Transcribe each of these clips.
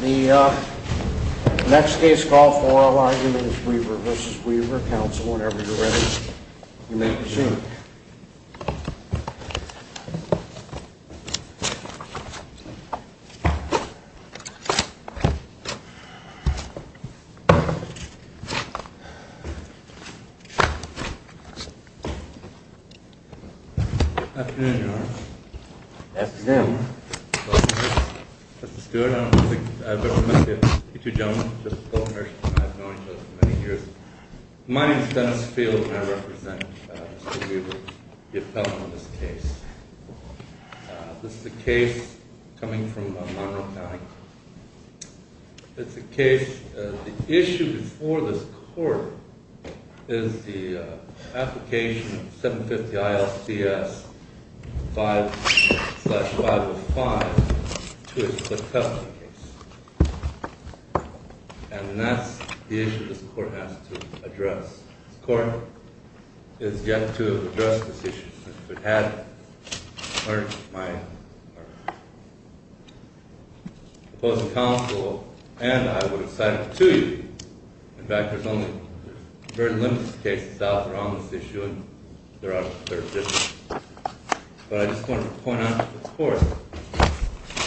The next case call for our argument is Weaver v. Weaver. Counsel, whenever you're ready, you may proceed. Afternoon, Your Honor. Afternoon. Mr. Stewart, I don't think I've ever met the two gentlemen. I've known each other for many years. My name is Dennis Fields, and I represent Mr. Weaver, the appellant on this case. This is a case coming from Monroe County. It's a case, the issue before this court is the application of 750 ILCS 5-505 to a split custody case. And that's the issue this court has to address. This court has yet to address this issue. If it hadn't, my opposing counsel and I would have signed up to you. In fact, there's only very limited cases out around this issue, and they're out of business. But I just wanted to point out to this court,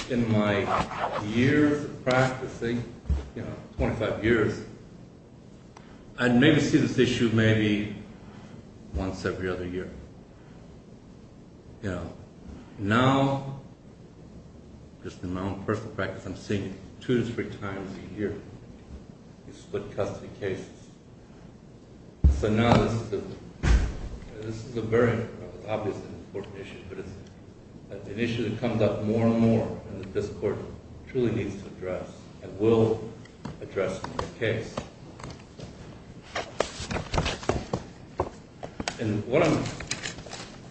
in my years of practicing, you know, 25 years, I'd maybe see this issue maybe once every other year. You know, now, just in my own personal practice, I'm seeing it two to three times a year, these split custody cases. So now this is a very obvious and important issue, but it's an issue that comes up more and more, and that this court truly needs to address, and will address in this case. And what I'm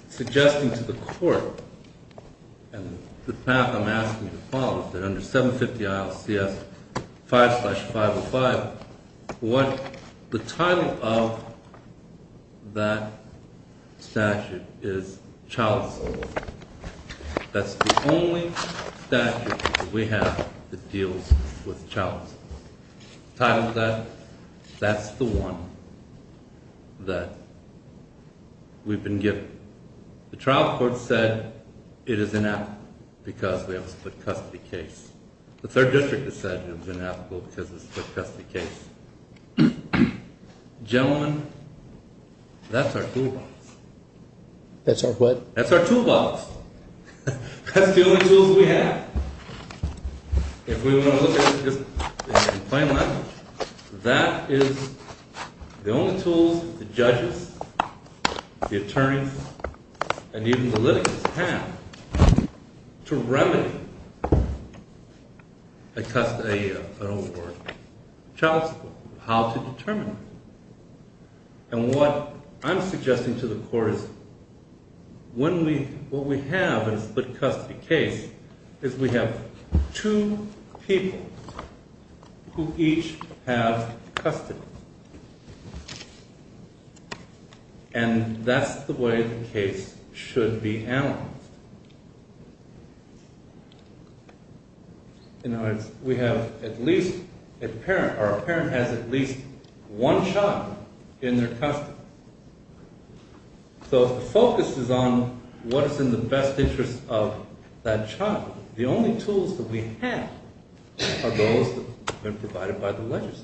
suggesting to the court, and the path I'm asking to follow, is that under 750 ILCS 5-505, the title of that statute is child assault. That's the only statute that we have that deals with child assault. The title of that, that's the one that we've been given. The trial court said it is inapplicable because we have a split custody case. The third district has said it's inapplicable because it's a split custody case. Gentlemen, that's our toolbox. That's our what? That's our toolbox. That's the only tools we have. If we want to look at it in plain language, that is the only tools the judges, the attorneys, and even the litigants have to remedy a child assault, how to determine it. And what I'm suggesting to the court is when we, what we have in a split custody case is we have two people who each have custody. And that's the way the case should be analyzed. In other words, we have at least a parent, or a parent has at least one child in their custody. So if the focus is on what is in the best interest of that child, the only tools that we have are those that have been provided by the legislature.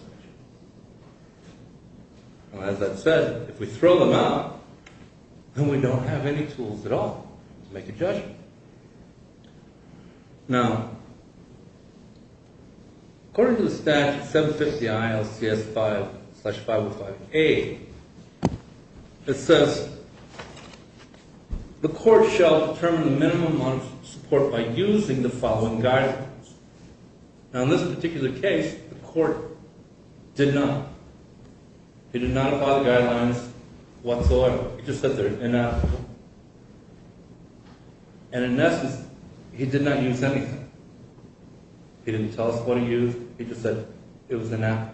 As I've said, if we throw them out, then we don't have any tools at all to make a judgment. Now, according to the statute, 750 ILCS 5 slash 505A, it says the court shall determine the minimum amount of support by using the following guidelines. Now, in this particular case, the court did not. He did not apply the guidelines whatsoever. He just said they're inadequate. And in essence, he did not use anything. He didn't tell us what he used. He just said it was inadequate.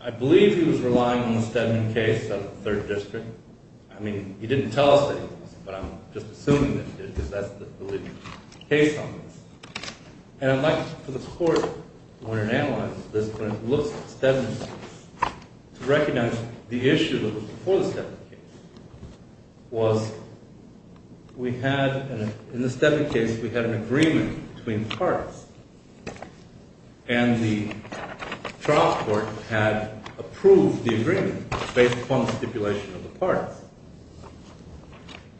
I believe he was relying on the Stedman case of the 3rd District. I mean, he didn't tell us anything, but I'm just assuming that he did, because that's the case on this. And I'd like for the court, when it analyzes this, when it looks at the Stedman case, to recognize the issue that was before the Stedman case. In the Stedman case, we had an agreement between the parties. And the trial court had approved the agreement based upon the stipulation of the parties.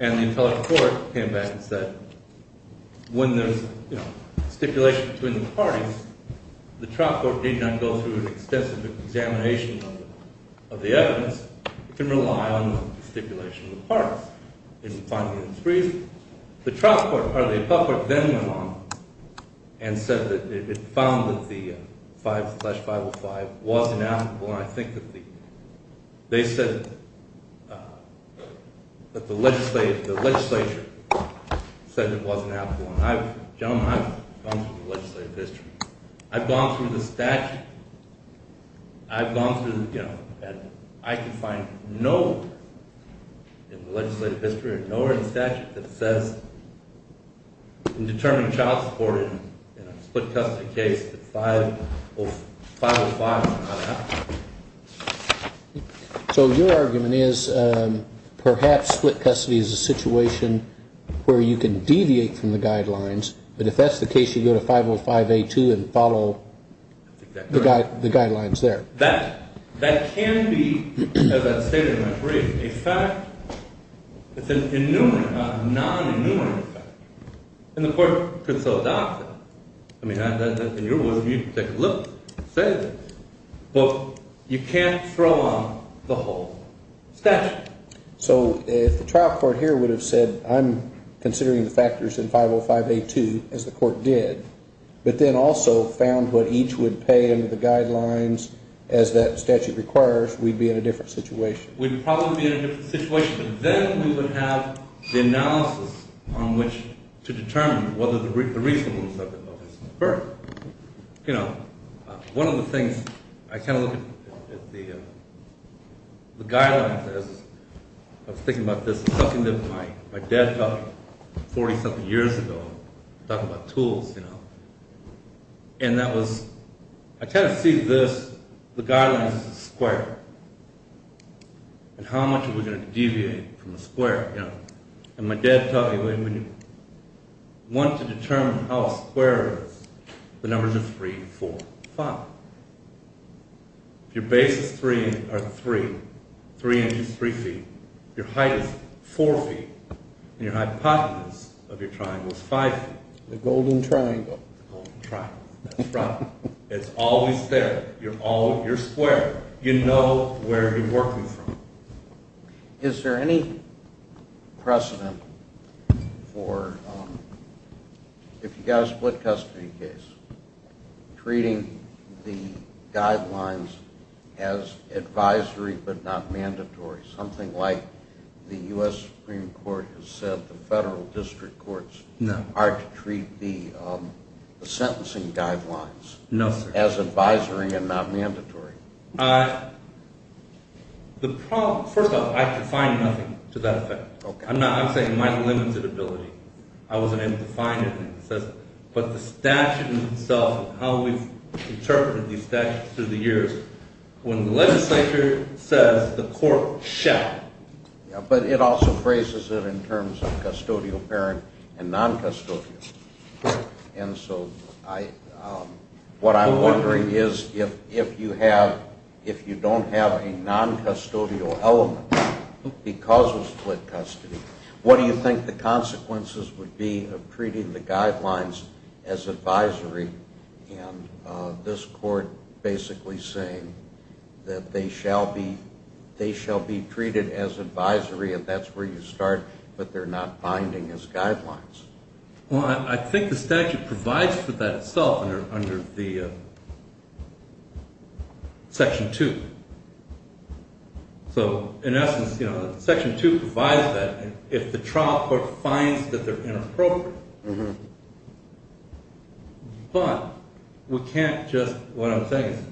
And the appellate court came back and said, when there's stipulation between the parties, the trial court did not go through an extensive examination of the evidence. It can rely on the stipulation of the parties. And finally, in its brief, the trial court, or the appellate court, then went along and said that it found that the 5 slash 505 was inadequate. And I think that they said that the legislature said it wasn't applicable. And gentlemen, I've gone through the legislative history. I've gone through the statute. I've gone through the, you know, and I can find no legislative history or nowhere in the statute that says, in determining child support in a split custody case, that 505 is not applicable. So your argument is, perhaps split custody is a situation where you can deviate from the guidelines. But if that's the case, you go to 505A2 and follow the guidelines there. That can be, as I stated in my brief, a fact that's a non-enumerable fact. And the court could so adopt it. I mean, in your world, you can take a look and say this. But you can't throw on the whole statute. So if the trial court here would have said, I'm considering the factors in 505A2, as the court did, but then also found what each would pay under the guidelines, as that statute requires, we'd be in a different situation. We'd probably be in a different situation. But then we would have the analysis on which to determine whether the reasonableness of it occurs. One of the things, I kind of look at the guidelines. I was thinking about this, talking to my dad 40-something years ago, talking about tools. And that was, I kind of see this, the guidelines as a square. And how much are we going to deviate from a square? And my dad taught me, when you want to determine how a square is, the numbers are 3, 4, 5. If your base is 3, or 3, 3 inches, 3 feet, your height is 4 feet, and your hypotenuse of your triangle is 5 feet. The golden triangle. The golden triangle. That's right. It's always there. You're square. You know where you're working from. Is there any precedent for, if you've got a split custody case, treating the guidelines as advisory but not mandatory? Something like the U.S. Supreme Court has said the federal district courts are to treat the sentencing guidelines as advisory and not mandatory. First off, I could find nothing to that effect. I'm saying my limited ability. I wasn't able to find anything. But the statute itself and how we've interpreted these statutes through the years, when the legislature says the court shall. But it also phrases it in terms of custodial parent and non-custodial. And so what I'm wondering is if you don't have a non-custodial element because of split custody, what do you think the consequences would be of treating the guidelines as advisory? And this court basically saying that they shall be treated as advisory, and that's where you start, but they're not binding as guidelines. Well, I think the statute provides for that itself under Section 2. So, in essence, Section 2 provides that if the trial court finds that they're inappropriate. But we can't just, what I'm saying is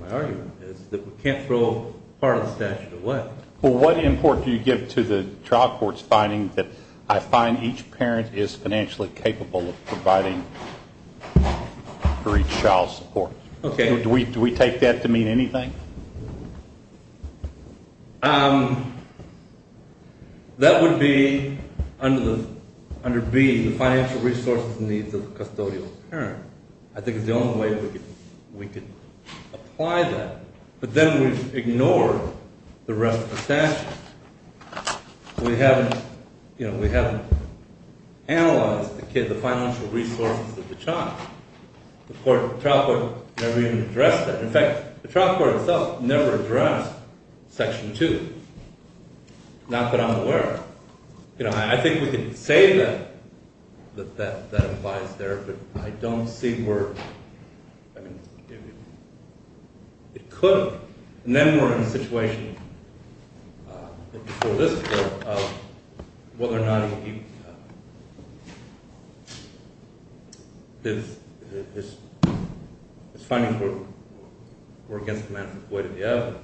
my argument is that we can't throw part of the statute away. Well, what import do you give to the trial court's finding that I find each parent is financially capable of providing for each child's support? Do we take that to mean anything? That would be under B, the financial resources and needs of the custodial parent. I think it's the only way we could apply that. But then we've ignored the rest of the statute. We haven't analyzed the financial resources of the child. The trial court never even addressed that. In fact, the trial court itself never addressed Section 2, not that I'm aware of. I think we can say that that applies there, but I don't see where – I mean, it could. And then we're in a situation, before this, of whether or not he – his findings were against the manifest way to the evidence.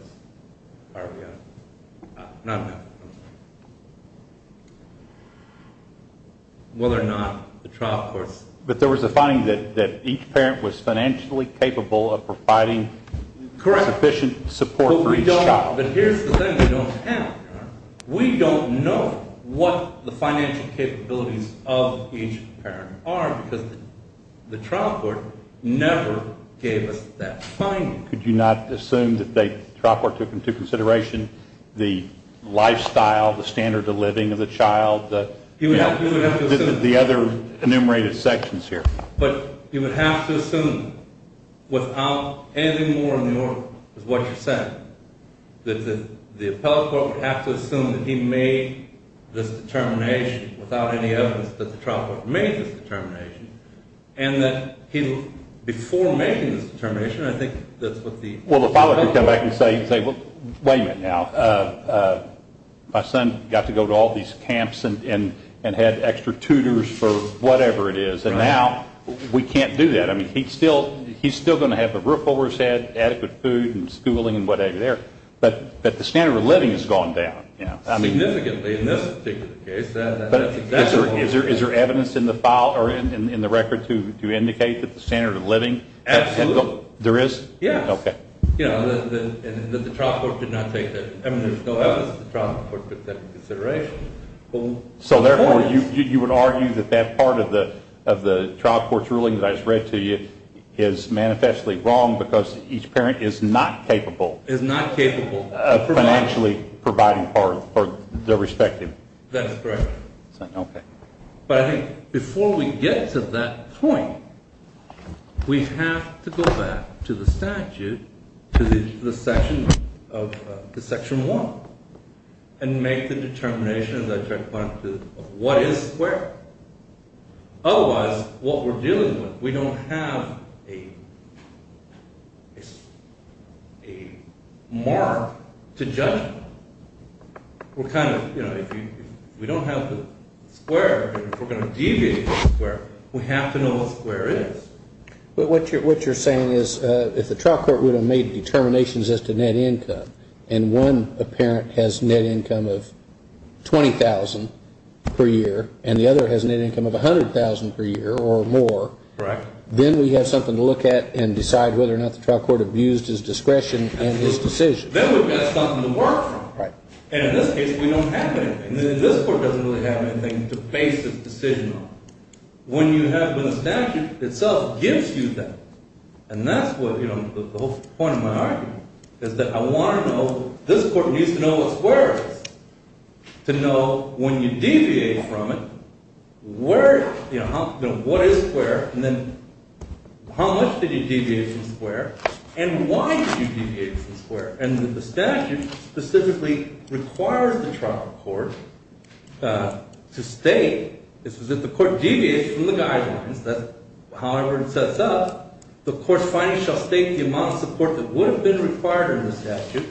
Whether or not the trial courts – But there was a finding that each parent was financially capable of providing sufficient support for each child. But here's the thing we don't have. We don't know what the financial capabilities of each parent are because the trial court never gave us that finding. Could you not assume that the trial court took into consideration the lifestyle, the standard of living of the child? The other enumerated sections here. But you would have to assume, without anything more in the order of what you said, that the appellate court would have to assume that he made this determination without any evidence that the trial court made this determination, and that he – before making this determination, I think that's what the – Well, the father could come back and say, well, wait a minute now. My son got to go to all these camps and had extra tutors for whatever it is, and now we can't do that. I mean, he's still going to have the roof over his head, adequate food and schooling and whatever there. But the standard of living has gone down. Significantly in this particular case. But is there evidence in the file or in the record to indicate that the standard of living – Absolutely. There is? Yes. Okay. You know, that the trial court did not take that – I mean, there's no evidence that the trial court took that into consideration. So therefore, you would argue that that part of the trial court's ruling that I just read to you is manifestly wrong because each parent is not capable – Is not capable – Of financially providing for their respective – That is correct. Okay. But I think before we get to that point, we have to go back to the statute, to the section 1, and make the determination, as I just pointed out, of what is square. Otherwise, what we're dealing with, we don't have a mark to judge on. We're kind of – you know, if we don't have the square, if we're going to deviate from the square, we have to know what square is. But what you're saying is if the trial court would have made determinations as to net income and one parent has net income of $20,000 per year and the other has net income of $100,000 per year or more – Correct. Then we have something to look at and decide whether or not the trial court abused his discretion in his decision. Then we've got something to work from. Right. And in this case, we don't have anything. This court doesn't really have anything to base its decision on. When you have the statute, itself gives you that. And that's what – you know, the whole point of my argument is that I want to know – this court needs to know what square is. To know when you deviate from it, where – you know, what is square, and then how much did you deviate from square, and why did you deviate from square. And the statute specifically requires the trial court to state – this is if the court deviates from the guidelines, however it sets up, the court's findings shall state the amount of support that would have been required in the statute.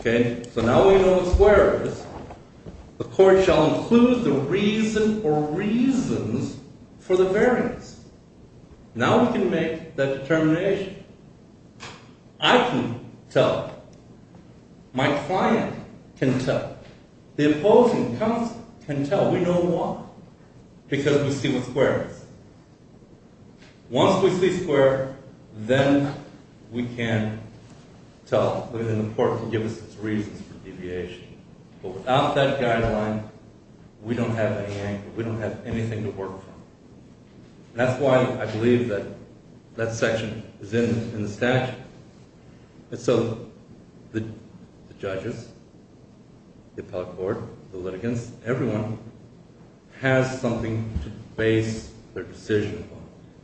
Okay? So now we know what square is. The court shall include the reason or reasons for the variance. Now we can make that determination. I can tell. My client can tell. The opposing counsel can tell. We know why. Because we see what square is. Once we see square, then we can tell. Then the court can give us its reasons for deviation. But without that guideline, we don't have any anger. We don't have anything to work from. That's why I believe that that section is in the statute. And so the judges, the appellate court, the litigants, everyone has something to base their decision upon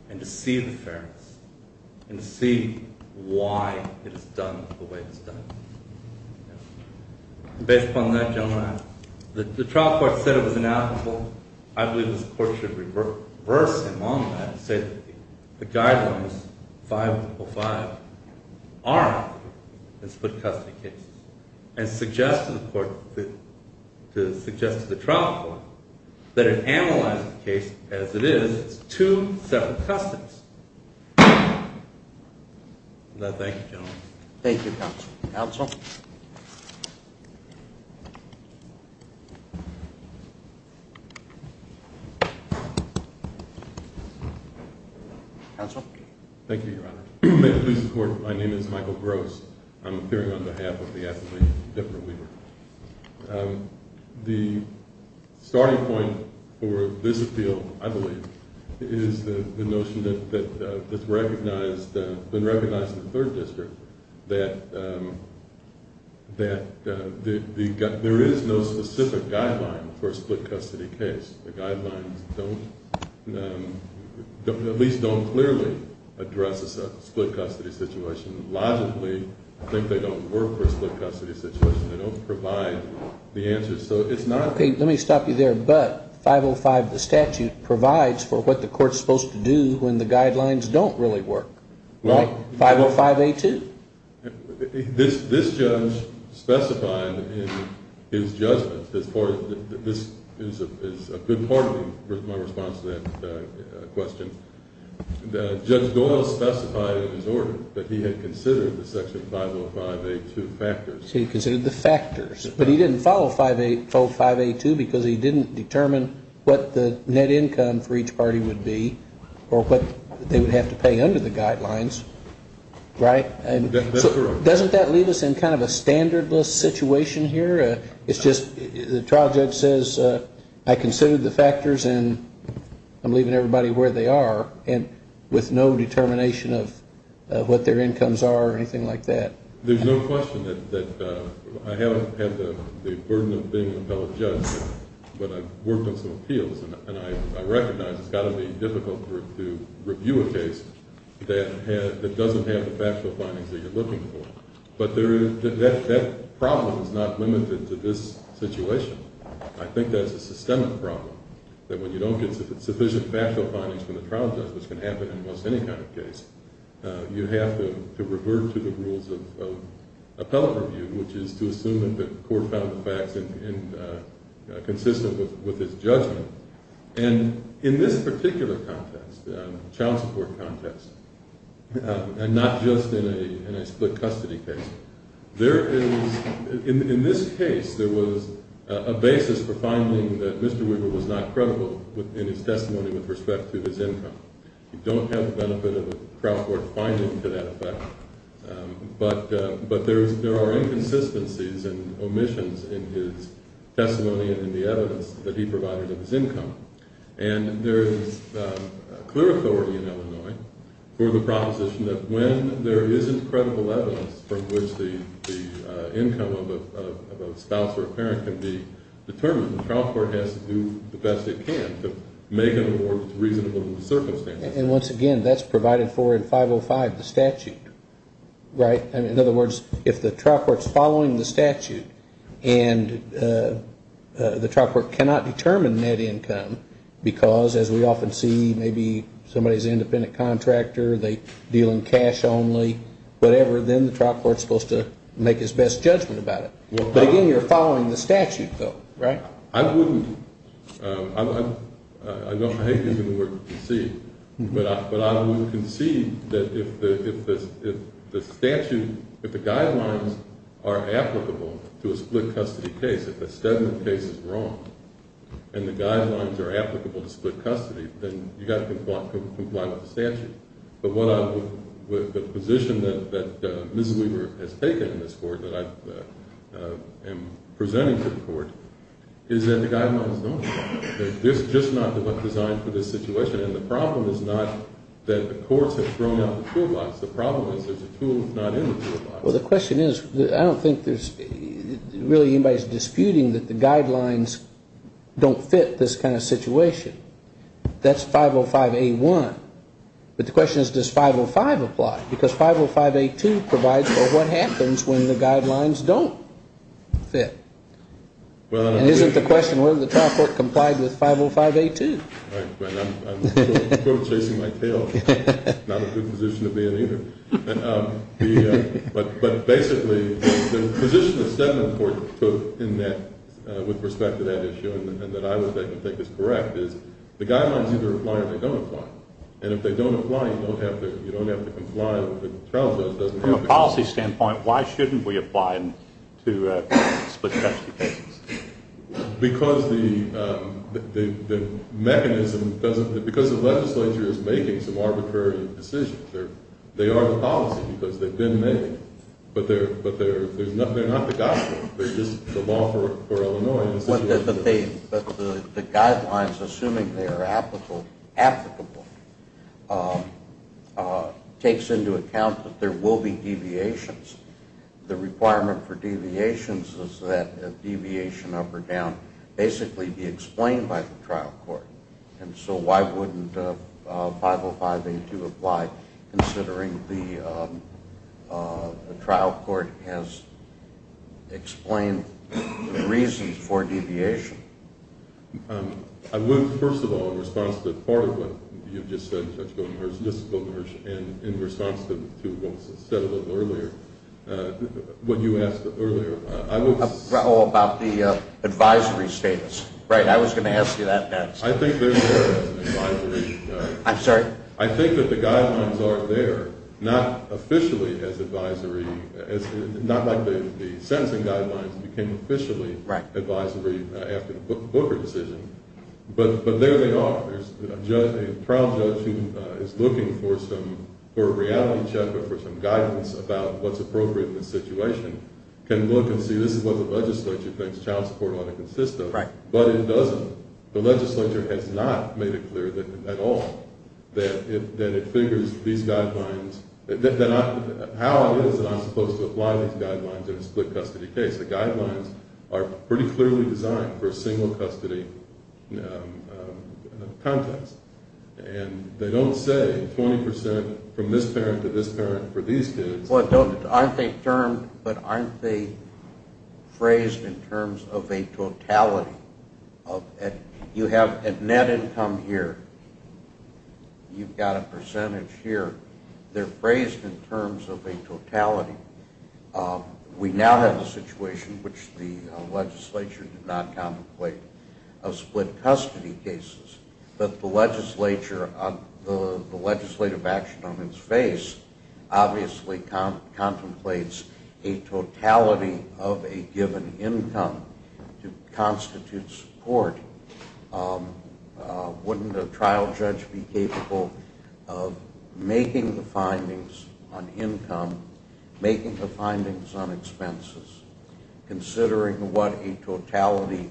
and to see the fairness and to see why it is done the way it is done. Based upon that, General Adams, the trial court said it was inalienable. I believe this court should reverse him on that and say that the guidelines, 505, are in split-custody cases. And suggest to the trial court that it analyzes the case as it is. It's two separate custodies. Thank you, counsel. Counsel? Counsel? Thank you, Your Honor. May it please the court, my name is Michael Gross. I'm appearing on behalf of the appellate, Debra Weaver. The starting point for this appeal, I believe, is the notion that's been recognized in the third district that there is no specific guideline for a split-custody case. The guidelines at least don't clearly address a split-custody situation. Logically, I think they don't work for a split-custody situation. They don't provide the answers. So it's not Okay, let me stop you there. But 505, the statute, provides for what the court's supposed to do when the guidelines don't really work. Well 505A2 This judge specified in his judgment, this is a good part of my response to that question. Judge Doyle specified in his order that he had considered the section 505A2 factors. He considered the factors. But he didn't follow 505A2 because he didn't determine what the net income for each party would be or what they would have to pay under the guidelines, right? That's correct. Doesn't that leave us in kind of a standardless situation here? It's just the trial judge says I considered the factors and I'm leaving everybody where they are with no determination of what their incomes are or anything like that. There's no question that I haven't had the burden of being an appellate judge, but I've worked on some appeals, and I recognize it's got to be difficult to review a case that doesn't have the factual findings that you're looking for. But that problem is not limited to this situation. I think that's a systemic problem, that when you don't get sufficient factual findings from the trial judge, which can happen in almost any kind of case, you have to revert to the rules of appellate review, which is to assume that the court found the facts consistent with its judgment. And in this particular context, child support context, and not just in a split custody case, there is, in this case, there was a basis for finding that Mr. Weaver was not credible in his testimony with respect to his income. You don't have the benefit of a trial court finding to that effect, but there are inconsistencies and omissions in his testimony and in the evidence that he provided of his income. And there is clear authority in Illinois for the proposition that when there isn't credible evidence from which the income of a spouse or a parent can be determined, the trial court has to do the best it can to make an award that's reasonable in the circumstances. And once again, that's provided for in 505, the statute, right? In other words, if the trial court's following the statute and the trial court cannot determine net income, because as we often see, maybe somebody's an independent contractor, they deal in cash only, whatever, then the trial court's supposed to make its best judgment about it. But again, you're following the statute, though, right? I wouldn't – I hate using the word concede, but I would concede that if the statute – if the guidelines are applicable to a split custody case, if the statement of the case is wrong and the guidelines are applicable to split custody, then you've got to comply with the statute. But what I would – the position that Mrs. Weaver has taken in this court that I am presenting to the court is that the guidelines don't fit. They're just not designed for this situation. And the problem is not that the courts have thrown out the toolbox. The problem is there's a tool that's not in the toolbox. Well, the question is, I don't think there's really anybody that's disputing that the guidelines don't fit this kind of situation. That's 505A1. But the question is, does 505 apply? Because 505A2 provides for what happens when the guidelines don't fit. And isn't the question, well, the trial court complied with 505A2. Right, but I'm chasing my tail. Not a good position to be in either. But basically, the position the settlement court took in that – with respect to that issue and that I would think is correct is the guidelines either apply or they don't apply. And if they don't apply, you don't have to comply. The trial judge doesn't have to comply. From a policy standpoint, why shouldn't we apply to split custody cases? Because the mechanism doesn't – because the legislature is making some arbitrary decisions. They are the policy because they've been made. But they're not the gospel. It's just the law for Illinois. But the guidelines, assuming they are applicable, takes into account that there will be deviations. The requirement for deviations is that a deviation up or down basically be explained by the trial court. And so why wouldn't 505A2 apply considering the trial court has explained the reasons for deviation? I would, first of all, in response to part of what you just said, Judge Goldenberg, and in response to what was said a little earlier, what you asked earlier, I would – Oh, about the advisory status. Right, I was going to ask you that next. I think there is an advisory – I'm sorry? I think that the guidelines are there, not officially as advisory – not like the sentencing guidelines became officially advisory after the Booker decision. But there they are. A trial judge who is looking for a reality check or for some guidance about what's appropriate in this situation can look and see this is what the legislature thinks child support ought to consist of. But it doesn't. The legislature has not made it clear at all that it figures these guidelines – how it is that I'm supposed to apply these guidelines in a split custody case. The guidelines are pretty clearly designed for a single custody context. And they don't say 20 percent from this parent to this parent for these kids. But aren't they phrased in terms of a totality? You have net income here. You've got a percentage here. They're phrased in terms of a totality. We now have a situation, which the legislature did not contemplate, of split custody cases. But the legislative action on its face obviously contemplates a totality of a given income to constitute support. Wouldn't a trial judge be capable of making the findings on income, making the findings on expenses, considering what a totality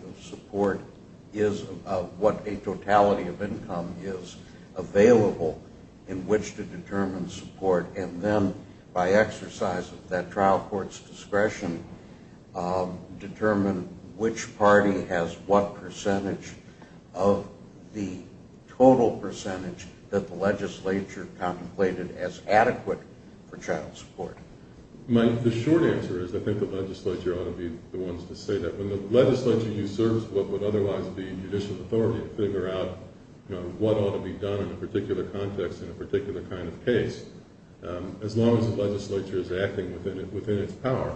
of income is available in which to determine support, and then by exercise of that trial court's discretion determine which party has what percentage of the total percentage that the legislature contemplated as adequate for child support? Mike, the short answer is I think the legislature ought to be the ones to say that. When the legislature usurps what would otherwise be judicial authority to figure out what ought to be done in a particular context in a particular kind of case, as long as the legislature is acting within its power,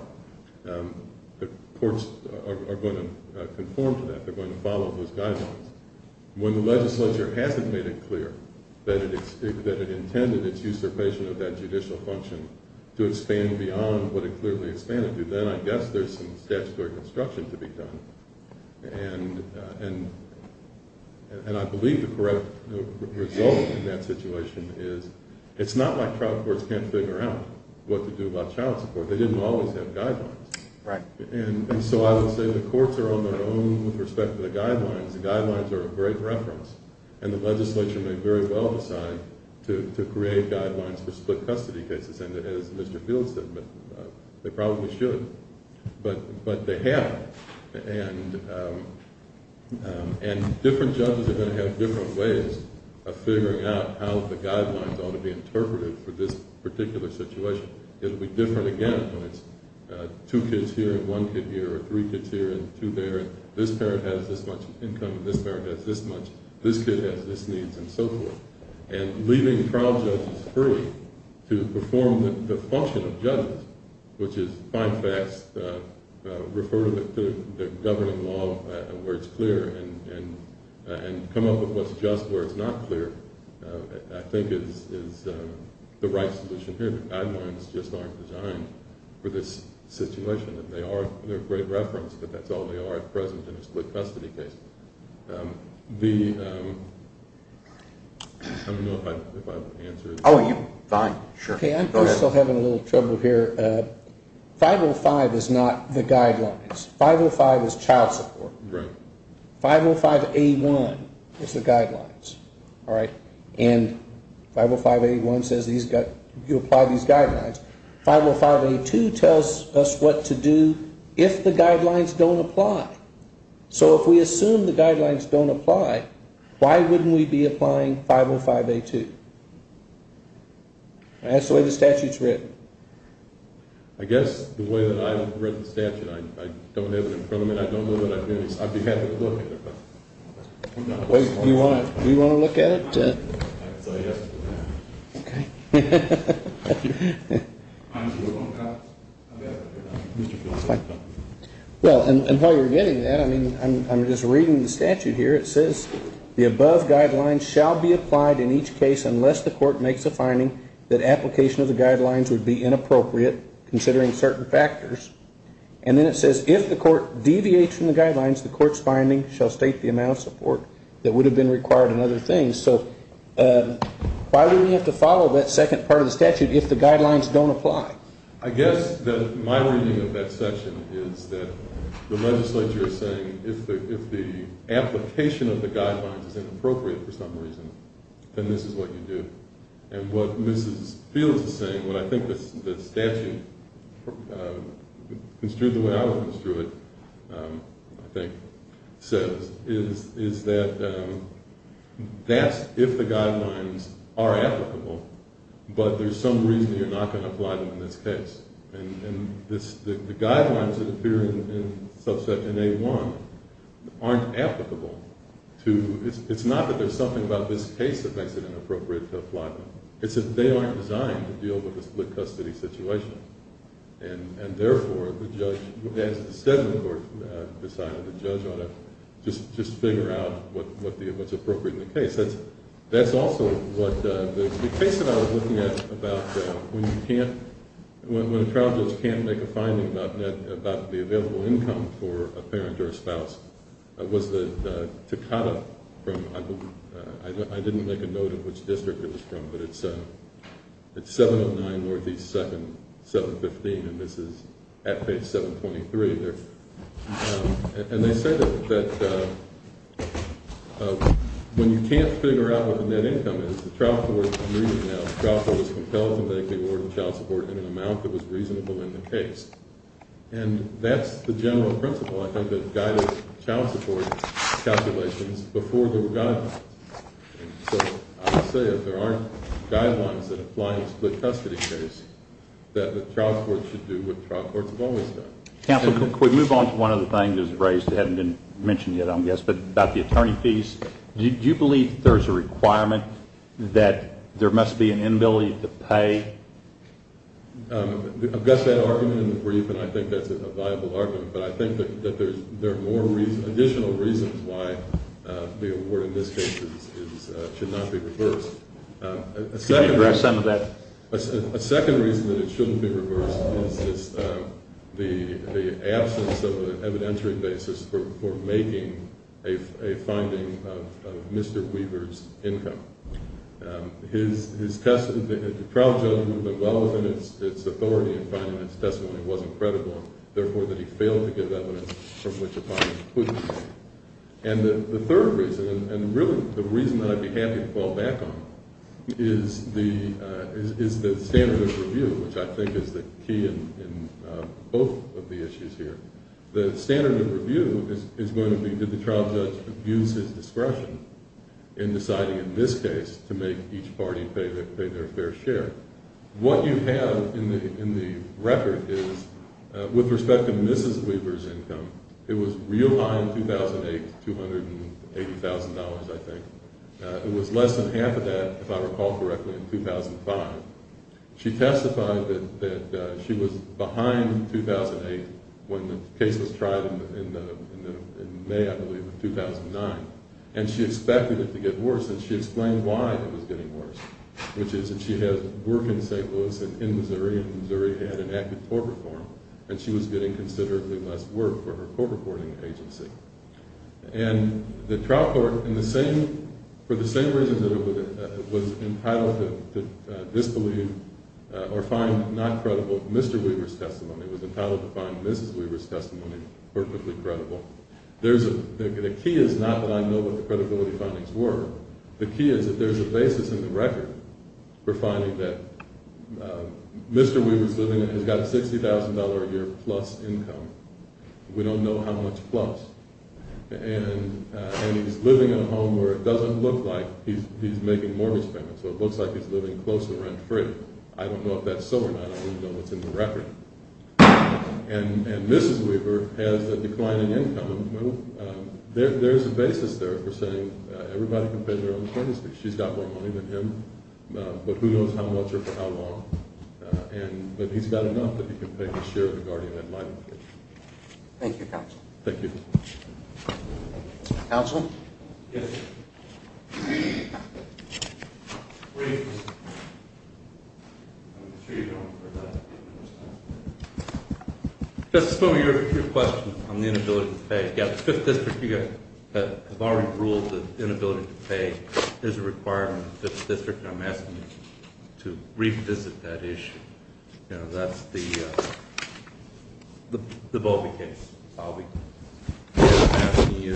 the courts are going to conform to that. They're going to follow those guidelines. When the legislature hasn't made it clear that it intended its usurpation of that judicial function to expand beyond what it clearly expanded to, then I guess there's some statutory construction to be done. And I believe the correct result in that situation is it's not like trial courts can't figure out what to do about child support. They didn't always have guidelines. Right. And so I would say the courts are on their own with respect to the guidelines. The guidelines are a great reference, and the legislature may very well decide to create guidelines for split custody cases, and as Mr. Field said, they probably should, but they haven't. And different judges are going to have different ways of figuring out how the guidelines ought to be interpreted for this particular situation. It will be different again when it's two kids here and one kid here, or three kids here and two there, and this parent has this much income and this parent has this much, this kid has this needs, and so forth. And leaving trial judges free to perform the function of judges, which is find facts, refer to the governing law where it's clear, and come up with what's just where it's not clear, I think is the right solution here. The guidelines just aren't designed for this situation. They're a great reference, but that's all they are at present in a split custody case. I don't know if I have an answer. Oh, you do. Fine. Sure. Okay, I'm still having a little trouble here. 505 is not the guidelines. 505 is child support. Right. 505A1 is the guidelines. All right. And 505A1 says you apply these guidelines. 505A2 tells us what to do if the guidelines don't apply. So if we assume the guidelines don't apply, why wouldn't we be applying 505A2? That's the way the statute's written. I guess the way that I've read the statute, I don't have it in front of me, and I don't know that I've been able to look at it. Do you want to look at it? Okay. Well, and while you're getting that, I mean, I'm just reading the statute here. It says the above guidelines shall be applied in each case unless the court makes a finding that application of the guidelines would be inappropriate, considering certain factors. And then it says if the court deviates from the guidelines, the court's finding shall state the amount of support that would have been required and other things. So why would we have to follow that second part of the statute if the guidelines don't apply? I guess that my reading of that section is that the legislature is saying if the application of the guidelines is inappropriate for some reason, then this is what you do. And what Mrs. Fields is saying, what I think the statute construed the way I would construe it, I think, says, is that that's if the guidelines are applicable, but there's some reason you're not going to apply them in this case. And the guidelines that appear in Subsection A-1 aren't applicable. It's not that there's something about this case that makes it inappropriate to apply them. It's that they aren't designed to deal with a split-custody situation. And therefore, the judge, as the settlement court decided, the judge ought to just figure out what's appropriate in the case. That's also what the case that I was looking at about when you can't – when a child just can't make a finding about the available income for a parent or a spouse was the Takata from – I didn't make a note of which district it was from, but it's 709 Northeast 2nd, 715, and this is at page 723. And they said that when you can't figure out what the net income is, the trial court agreed to that. The trial court was compelled to make the award of child support in an amount that was reasonable in the case. And that's the general principle, I think, that guided child support calculations before there were guidelines. So I would say if there aren't guidelines that apply in a split-custody case, that the trial court should do what trial courts have always done. Counsel, could we move on to one other thing that was raised that hadn't been mentioned yet, I guess, but about the attorney fees? Do you believe that there's a requirement that there must be an inability to pay? I've got that argument in the brief, and I think that's a viable argument. But I think that there are more additional reasons why the award in this case should not be reversed. Could you address some of that? A second reason that it shouldn't be reversed is the absence of an evidentiary basis for making a finding of Mr. Weaver's income. The trial judgment went well within its authority in finding this testimony wasn't credible, therefore, that he failed to give evidence from which a fine could be paid. And the third reason, and really the reason that I'd be happy to fall back on, is the standard of review, which I think is the key in both of the issues here. The standard of review is going to be, did the trial judge abuse his discretion in deciding in this case to make each party pay their fair share? What you have in the record is, with respect to Mrs. Weaver's income, it was real high in 2008, $280,000, I think. It was less than half of that, if I recall correctly, in 2005. She testified that she was behind 2008 when the case was tried in May, I believe, of 2009. And she expected it to get worse, and she explained why it was getting worse, which is that she had work in St. Louis and in Missouri, and Missouri had an active court reform, and she was getting considerably less work for her court reporting agency. And the trial court, for the same reasons that it was entitled to disbelieve or find not credible Mr. Weaver's testimony, it was entitled to find Mrs. Weaver's testimony perfectly credible. The key is not that I know what the credibility findings were. The key is that there's a basis in the record for finding that Mr. Weaver's living, he's got a $60,000 a year plus income. We don't know how much plus. And he's living in a home where it doesn't look like he's making mortgage payments, so it looks like he's living close to rent free. I don't know if that's so or not. I don't even know what's in the record. And Mrs. Weaver has a declining income. There's a basis there for saying everybody can pay their own courtesy. She's got more money than him, but who knows how much or for how long. But he's got enough that he can pay the share of the guardian that might have paid him. Thank you, Counsel. Thank you. Counsel? Yes, sir. Where are you from? I'm sure you don't remember that. Just to fill in your question on the inability to pay, you've got the 5th District. You guys have already ruled that inability to pay is a requirement of the 5th District, and I'm asking you to revisit that issue. You know, that's the Bowlby case. I'm asking you to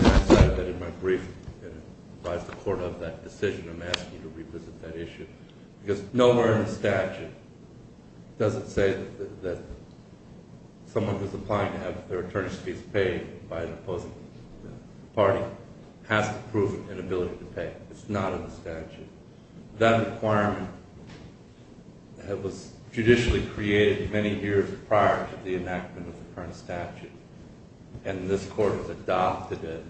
revisit that issue. Because nowhere in the statute does it say that someone who's applying to have their attorney's fees paid by an opposing party has to prove an inability to pay. It's not in the statute. That requirement was judicially created many years prior to the enactment of the current statute, and this Court has adopted it.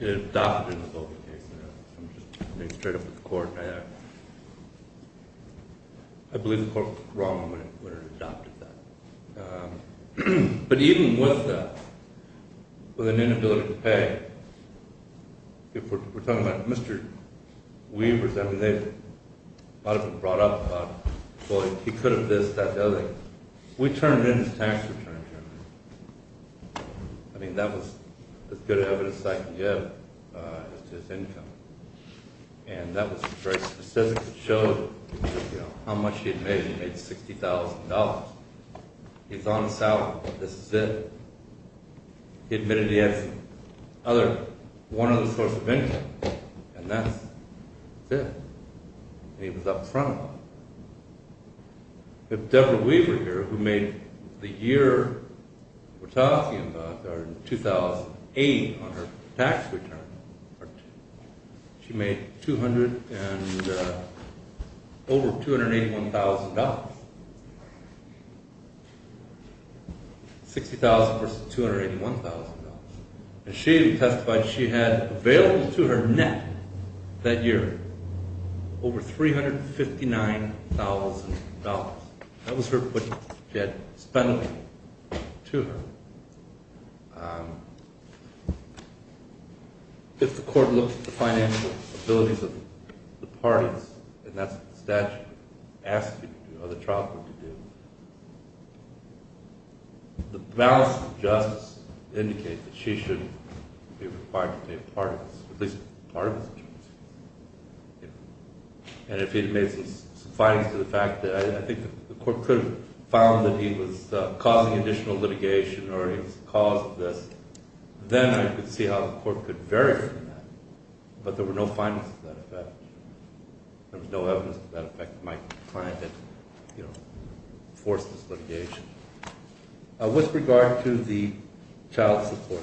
It was adopted in the Bowlby case. I'm just being straight up with the Court. I believe the Court was wrong when it adopted that. But even with an inability to pay, if we're talking about Mr. Weavers, I mean, they might have been brought up about, well, he could have this, that, the other. We turned in his tax return. I mean, that was as good evidence as I can give as to his income. And that was very specific. It showed, you know, how much he had made. He made $60,000. He was on a salary. This is it. He admitted he had one other source of income, and that's it. He was up front. We have Deborah Weaver here who made the year we're talking about, or in 2008 on her tax return, she made over $281,000. $60,000 versus $281,000. And she testified she had available to her net that year over $359,000. That was her putt. She had spent it to her. If the Court looks at the financial abilities of the parties, and that's what the statute asks you to do, other trials would do, the balance of justice indicates that she should be required to be a part of this, at least part of this. And if he had made some findings to the fact that I think the Court could have found that he was causing additional litigation or he caused this, then I could see how the Court could vary from that. But there were no findings to that effect. There was no evidence to that effect. My client had, you know, forced this litigation. With regard to the child support,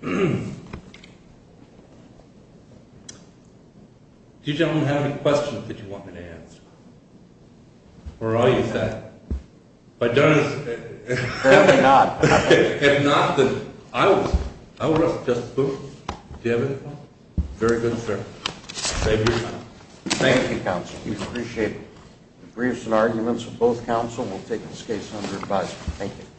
do you gentlemen have any questions that you want me to answer? Or are you set? If I don't, if not, then I will just move. Do you have any questions? Very good, sir. Thank you. Thank you, counsel. We appreciate it. The briefs and arguments of both counsel will take this case under advisement. Thank you.